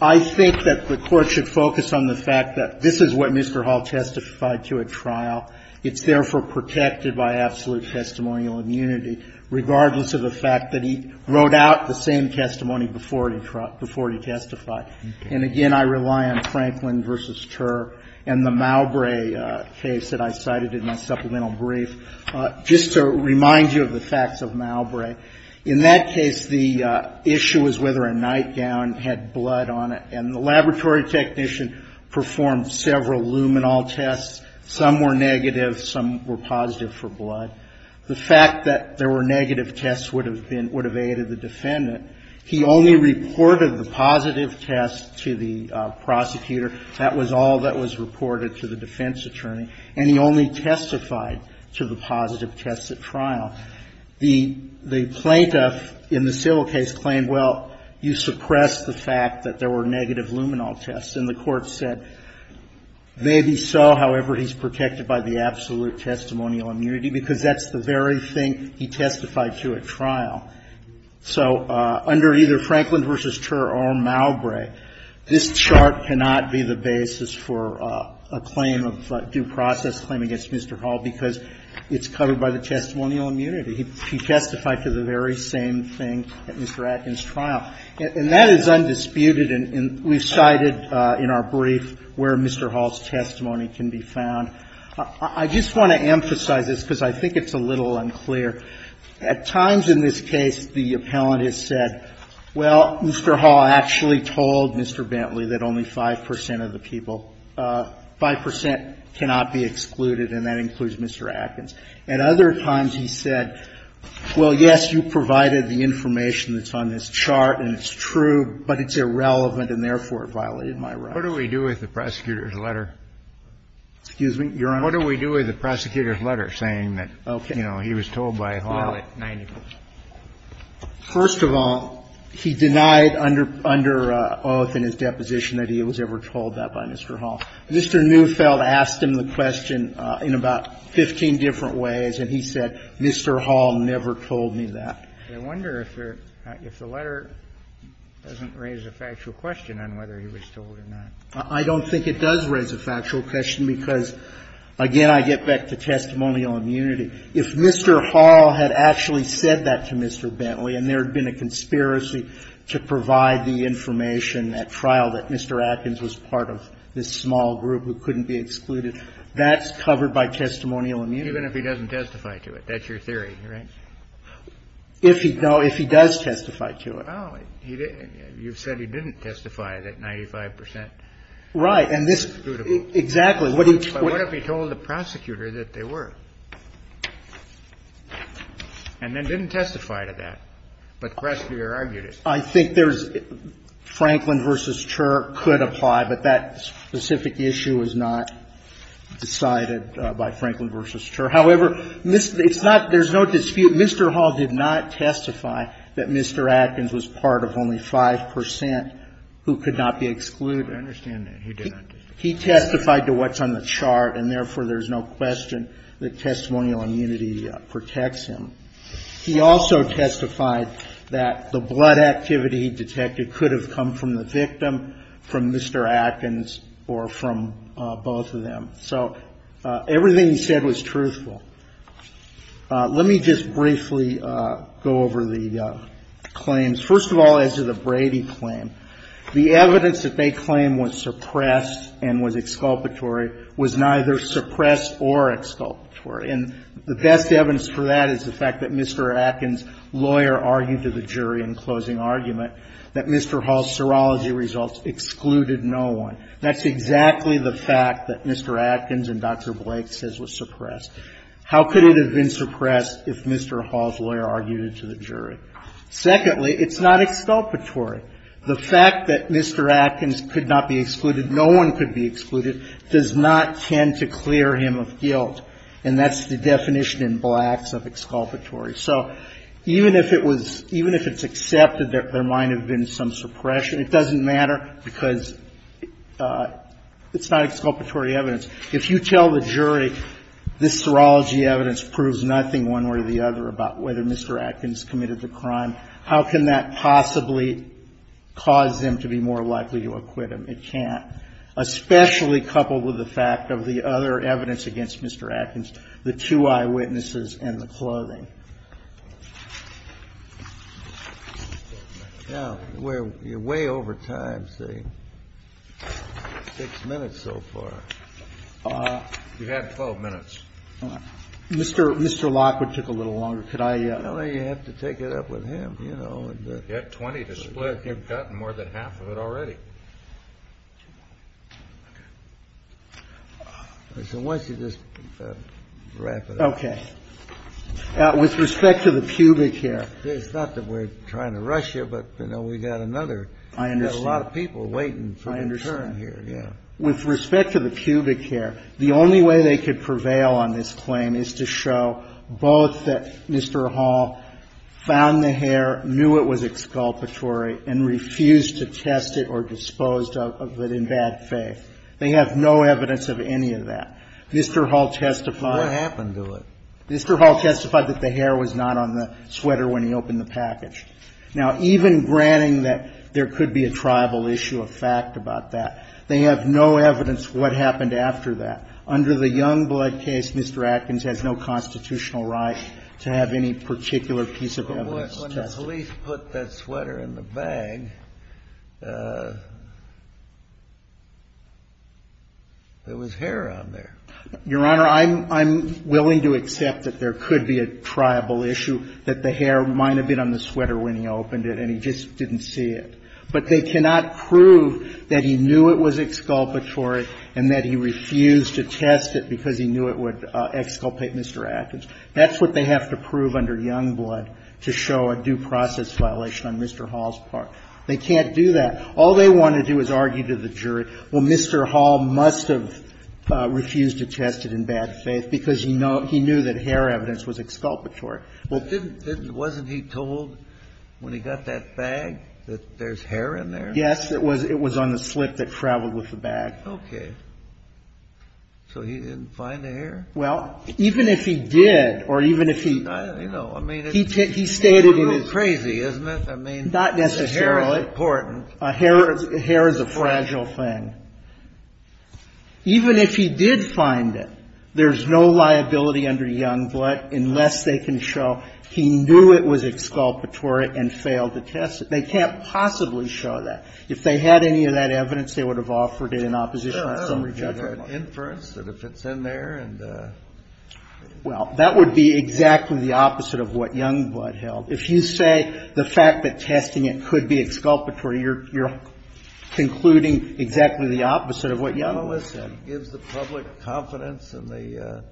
I think that the Court should focus on the fact that this is what Mr. Hall testified to at trial. It's therefore protected by absolute testimonial immunity, regardless of the fact that he wrote out the same testimony before he testified. And again, I rely on Franklin v. Turr and the Malbrae case that I cited in my supplemental brief. Just to remind you of the facts of Malbrae, in that case, the issue was whether a nightgown had blood on it. And the laboratory technician performed several luminal tests. Some were negative. Some were positive for blood. The fact that there were negative tests would have been — would have aided the defendant. He only reported the positive test to the prosecutor. That was all that was reported to the defense attorney. And he only testified to the positive tests at trial. The plaintiff in the civil case claimed, well, you suppressed the fact that there were negative luminal tests. And the Court said, maybe so, however, he's protected by the absolute testimonial immunity, because that's the very thing he testified to at trial. So under either Franklin v. Turr or Malbrae, this chart cannot be the basis for a claim against Mr. Hall because it's covered by the testimonial immunity. He testified to the very same thing at Mr. Atkins' trial. And that is undisputed, and we've cited in our brief where Mr. Hall's testimony can be found. I just want to emphasize this because I think it's a little unclear. At times in this case, the appellant has said, well, Mr. Hall actually told Mr. Bentley that only 5 percent of the people, 5 percent cannot be excluded, and that includes Mr. Atkins. At other times he said, well, yes, you provided the information that's on this chart and it's true, but it's irrelevant, and therefore it violated my right. What do we do with the prosecutor's letter? Excuse me, Your Honor? What do we do with the prosecutor's letter saying that, you know, he was told by Hall at 90 percent? First of all, he denied under oath in his deposition that he was ever told that by Mr. Hall. Mr. Neufeld asked him the question in about 15 different ways, and he said, Mr. Hall never told me that. I wonder if the letter doesn't raise a factual question on whether he was told or not. I don't think it does raise a factual question because, again, I get back to testimonial immunity. If Mr. Hall had actually said that to Mr. Bentley and there had been a conspiracy to provide the information at trial that Mr. Atkins was part of this small group who couldn't be excluded, that's covered by testimonial immunity. Even if he doesn't testify to it. That's your theory, right? No, if he does testify to it. Oh, you said he didn't testify that 95 percent is excludable. Right. Exactly. But what if he told the prosecutor that they were? And then didn't testify to that. But the prosecutor argued it. I think there's Franklin v. Chur could apply, but that specific issue was not decided by Franklin v. Chur. However, it's not — there's no dispute. Mr. Hall did not testify that Mr. Atkins was part of only 5 percent who could not be excluded. I understand that. He did not testify. He testified to what's on the chart and, therefore, there's no question that testimonial immunity protects him. He also testified that the blood activity detected could have come from the victim, from Mr. Atkins, or from both of them. So everything he said was truthful. Let me just briefly go over the claims. First of all, as to the Brady claim, the evidence that they claim was suppressed and was exculpatory was neither suppressed or exculpatory. And the best evidence for that is the fact that Mr. Atkins' lawyer argued to the jury in closing argument that Mr. Hall's serology results excluded no one. That's exactly the fact that Mr. Atkins and Dr. Blake says was suppressed. How could it have been suppressed if Mr. Hall's lawyer argued it to the jury? Secondly, it's not exculpatory. The fact that Mr. Atkins could not be excluded, no one could be excluded, does not tend to clear him of guilt. And that's the definition in Blacks of exculpatory. So even if it was – even if it's accepted that there might have been some suppression, it doesn't matter because it's not exculpatory evidence. If you tell the jury this serology evidence proves nothing one way or the other about whether Mr. Atkins committed the crime, how can that possibly cause them to be more likely to acquit him? It can't, especially coupled with the fact of the other evidence against Mr. Atkins, the two eyewitnesses and the clothing. Kennedy. Now, we're way over time, see. Six minutes so far. You had 12 minutes. Mr. Lockwood took a little longer. Could I – Well, you have to take it up with him, you know. You had 20 to split. You've gotten more than half of it already. So why don't you just wrap it up? Okay. With respect to the pubic hair. It's not that we're trying to rush you, but, you know, we've got another – I understand. We've got a lot of people waiting for the turn here. I understand. With respect to the pubic hair, the only way they could prevail on this claim is to show both that Mr. Hall found the hair, knew it was exculpatory, and refused to test it or dispose of it in bad faith. They have no evidence of any of that. Mr. Hall testified – What happened to it? Mr. Hall testified that the hair was not on the sweater when he opened the package. Now, even granting that there could be a triable issue of fact about that, they have no evidence of what happened after that. Under the Youngblood case, Mr. Atkins has no constitutional right to have any particular piece of evidence tested. When the police put that sweater in the bag, there was hair on there. Your Honor, I'm willing to accept that there could be a triable issue, that the hair might have been on the sweater when he opened it, and he just didn't see it. But they cannot prove that he knew it was exculpatory and that he refused to test it because he knew it would exculpate Mr. Atkins. That's what they have to prove under Youngblood to show a due process violation on Mr. Hall's part. They can't do that. All they want to do is argue to the jury, well, Mr. Hall must have refused to test it in bad faith because he knew that hair evidence was exculpatory. Well, didn't – wasn't he told when he got that bag that there's hair in there? Yes. It was on the slip that traveled with the bag. Okay. So he didn't find the hair? Well, even if he did or even if he – I don't know. I mean, it's a little crazy, isn't it? Not necessarily. I mean, hair is important. Hair is a fragile thing. Even if he did find it, there's no liability under Youngblood unless they can show he knew it was exculpatory and failed to test it. They can't possibly show that. If they had any of that evidence, they would have offered it in opposition to summary judgment. Sure. They'd have inference that if it's in there and – Well, that would be exactly the opposite of what Youngblood held. If you say the fact that testing it could be exculpatory, you're concluding exactly the opposite of what Youngblood – Well, listen, it gives the public confidence in the,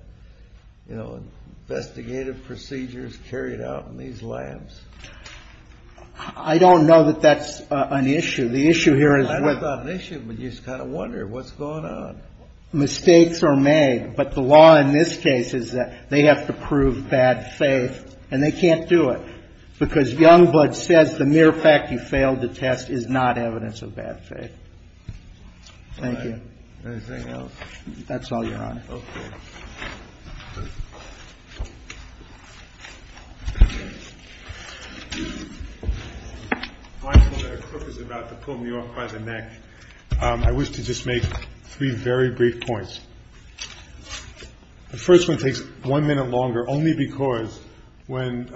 you know, investigative procedures carried out in these labs. I don't know that that's an issue. The issue here is – I don't know about an issue, but you just kind of wonder what's going on. Mistakes are made. But the law in this case is that they have to prove bad faith, and they can't do it because Youngblood says the mere fact he failed to test is not evidence of bad faith. Thank you. Anything else? Okay. I'm mindful that a crook is about to pull me off by the neck. I wish to just make three very brief points. The first one takes one minute longer only because when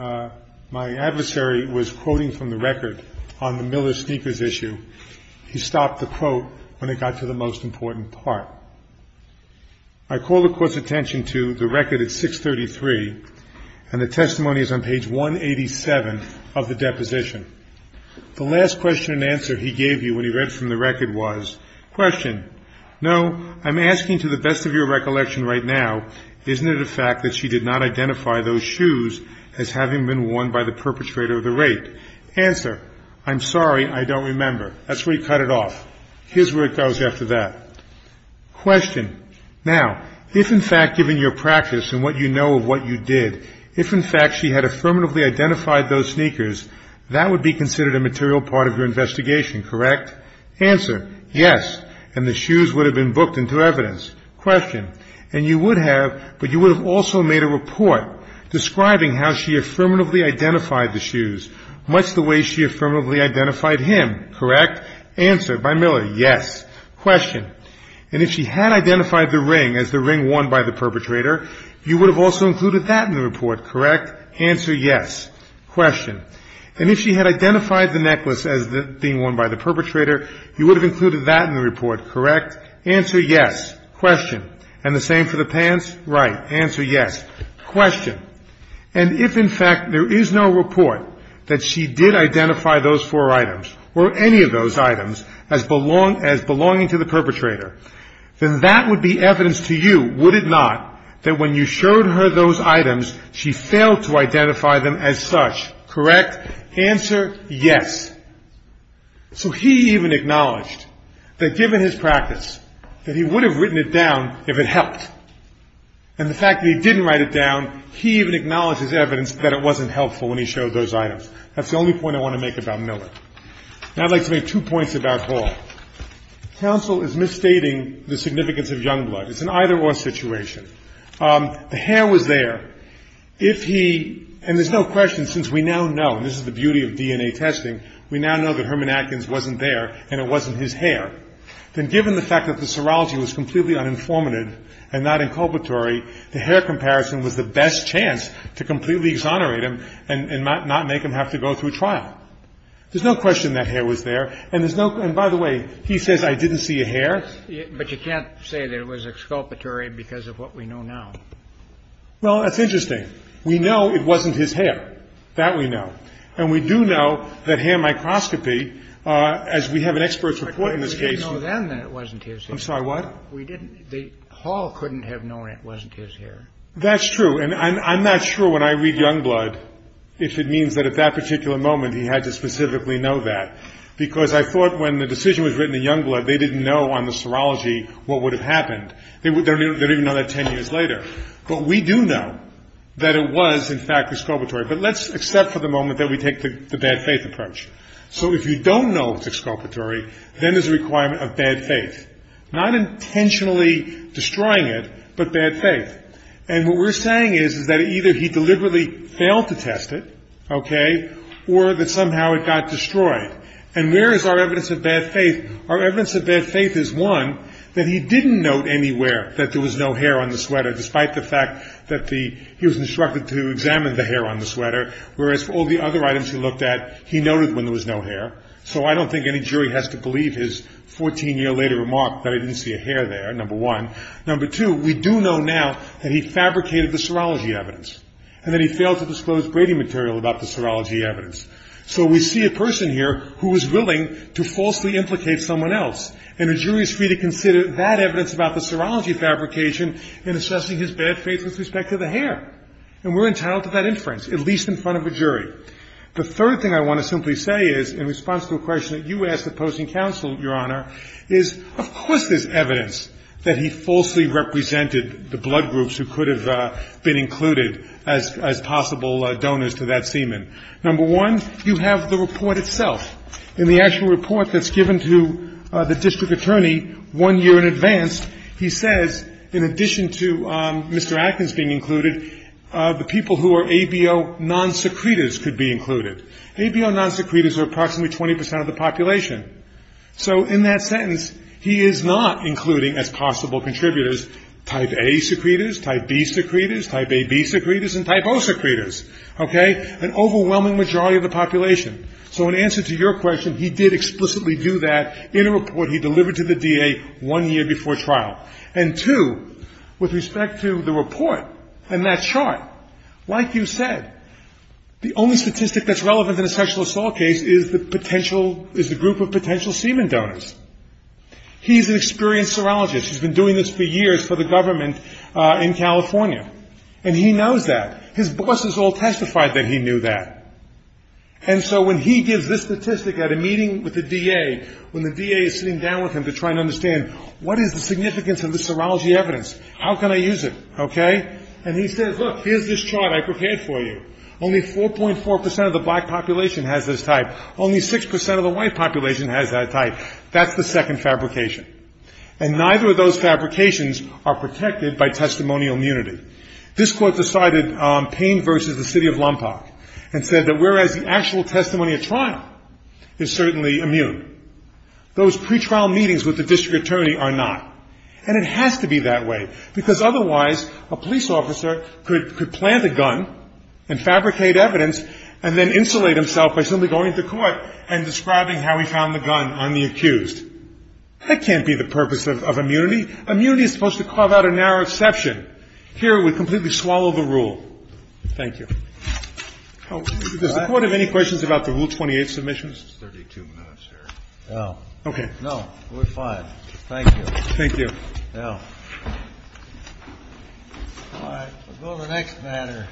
my adversary was quoting from the record on the Miller sneakers issue, he stopped the quote when it got to the most important part. I call the Court's attention to the record at 633, and the testimony is on page 187 of the deposition. The last question and answer he gave you when he read from the record was, question, no, I'm asking to the best of your recollection right now, isn't it a fact that she did not identify those shoes as having been worn by the perpetrator of the rape? Answer, I'm sorry, I don't remember. That's where he cut it off. Here's where it goes after that. Question, now, if in fact given your practice and what you know of what you did, if in fact she had affirmatively identified those sneakers, that would be considered a material part of your investigation, correct? Answer, yes, and the shoes would have been booked into evidence. Question, and you would have, but you would have also made a report describing how she affirmatively identified the shoes, much the way she affirmatively identified him, correct? Answer, by Miller, yes. Question, and if she had identified the ring as the ring worn by the perpetrator, you would have also included that in the report, correct? Answer, yes. Question, and if she had identified the necklace as being worn by the perpetrator, you would have included that in the report, correct? Answer, yes. Question, and the same for the pants? Right, answer yes. Question, and if in fact there is no report that she did identify those four items, or any of those items, as belonging to the perpetrator, then that would be evidence to you, would it not, that when you showed her those items she failed to identify them as such, correct? Answer, yes. So he even acknowledged that given his practice, that he would have written it down if it helped. And the fact that he didn't write it down, he even acknowledged as evidence that it wasn't helpful when he showed those items. That's the only point I want to make about Miller. Now I'd like to make two points about Hall. Counsel is misstating the significance of young blood. It's an either-or situation. The hair was there. If he, and there's no question since we now know, and this is the beauty of DNA testing, we now know that Herman Atkins wasn't there and it wasn't his hair. Then given the fact that the serology was completely uninformative and not inculpatory, the hair comparison was the best chance to completely exonerate him and not make him have to go through trial. There's no question that hair was there. And by the way, he says I didn't see a hair. But you can't say that it was exculpatory because of what we know now. Well, that's interesting. We know it wasn't his hair. That we know. And we do know that hair microscopy, as we have an expert's report in this case. But we didn't know then that it wasn't his hair. I'm sorry, what? We didn't. Hall couldn't have known it wasn't his hair. That's true. And I'm not sure when I read Youngblood if it means that at that particular moment he had to specifically know that. Because I thought when the decision was written in Youngblood, they didn't know on the serology what would have happened. They don't even know that 10 years later. But we do know that it was, in fact, exculpatory. But let's accept for the moment that we take the bad faith approach. So if you don't know it was exculpatory, then there's a requirement of bad faith. Not intentionally destroying it, but bad faith. And what we're saying is that either he deliberately failed to test it, okay, or that somehow it got destroyed. And where is our evidence of bad faith? Our evidence of bad faith is, one, that he didn't note anywhere that there was no hair on the sweater, despite the fact that he was instructed to examine the hair on the sweater. Whereas for all the other items he looked at, he noted when there was no hair. So I don't think any jury has to believe his 14-year-later remark that I didn't see a hair there, number one. Number two, we do know now that he fabricated the serology evidence. And that he failed to disclose Brady material about the serology evidence. So we see a person here who is willing to falsely implicate someone else. And a jury is free to consider that evidence about the serology fabrication in assessing his bad faith with respect to the hair. And we're entitled to that inference, at least in front of a jury. The third thing I want to simply say is, in response to a question that you asked at posting council, Your Honor, is of course there's evidence that he falsely represented the blood groups who could have been included as possible donors to that semen. Number one, you have the report itself. In the actual report that's given to the district attorney one year in advance, he says in addition to Mr. Atkins being included, the people who are ABO non-secretives could be included. ABO non-secretives are approximately 20% of the population. So in that sentence, he is not including as possible contributors type A secretors, type B secretors, type AB secretors, and type O secretors. Okay? An overwhelming majority of the population. So in answer to your question, he did explicitly do that in a report he delivered to the DA one year before trial. And two, with respect to the report and that chart, like you said, the only statistic that's relevant in a sexual assault case is the group of potential semen donors. He's an experienced serologist. He's been doing this for years for the government in California. And he knows that. His bosses all testified that he knew that. And so when he gives this statistic at a meeting with the DA, when the DA is sitting down with him to try and understand what is the significance of the serology evidence, how can I use it, okay? And he says, look, here's this chart I prepared for you. Only 4.4% of the black population has this type. Only 6% of the white population has that type. That's the second fabrication. And neither of those fabrications are protected by testimonial immunity. This court decided Payne versus the city of Lompoc and said that whereas the actual testimony at trial is certainly immune, those pretrial meetings with the district attorney are not. And it has to be that way, because otherwise a police officer could plant a gun and fabricate evidence and then insulate himself by simply going to court and describing how he found the gun on the accused. That can't be the purpose of immunity. Immunity is supposed to carve out a narrow exception. Here it would completely swallow the rule. Thank you. Does the Court have any questions about the Rule 28 submissions? No. Okay. No, we're fine. Thank you. Thank you. No. All right, we'll go to the next matter.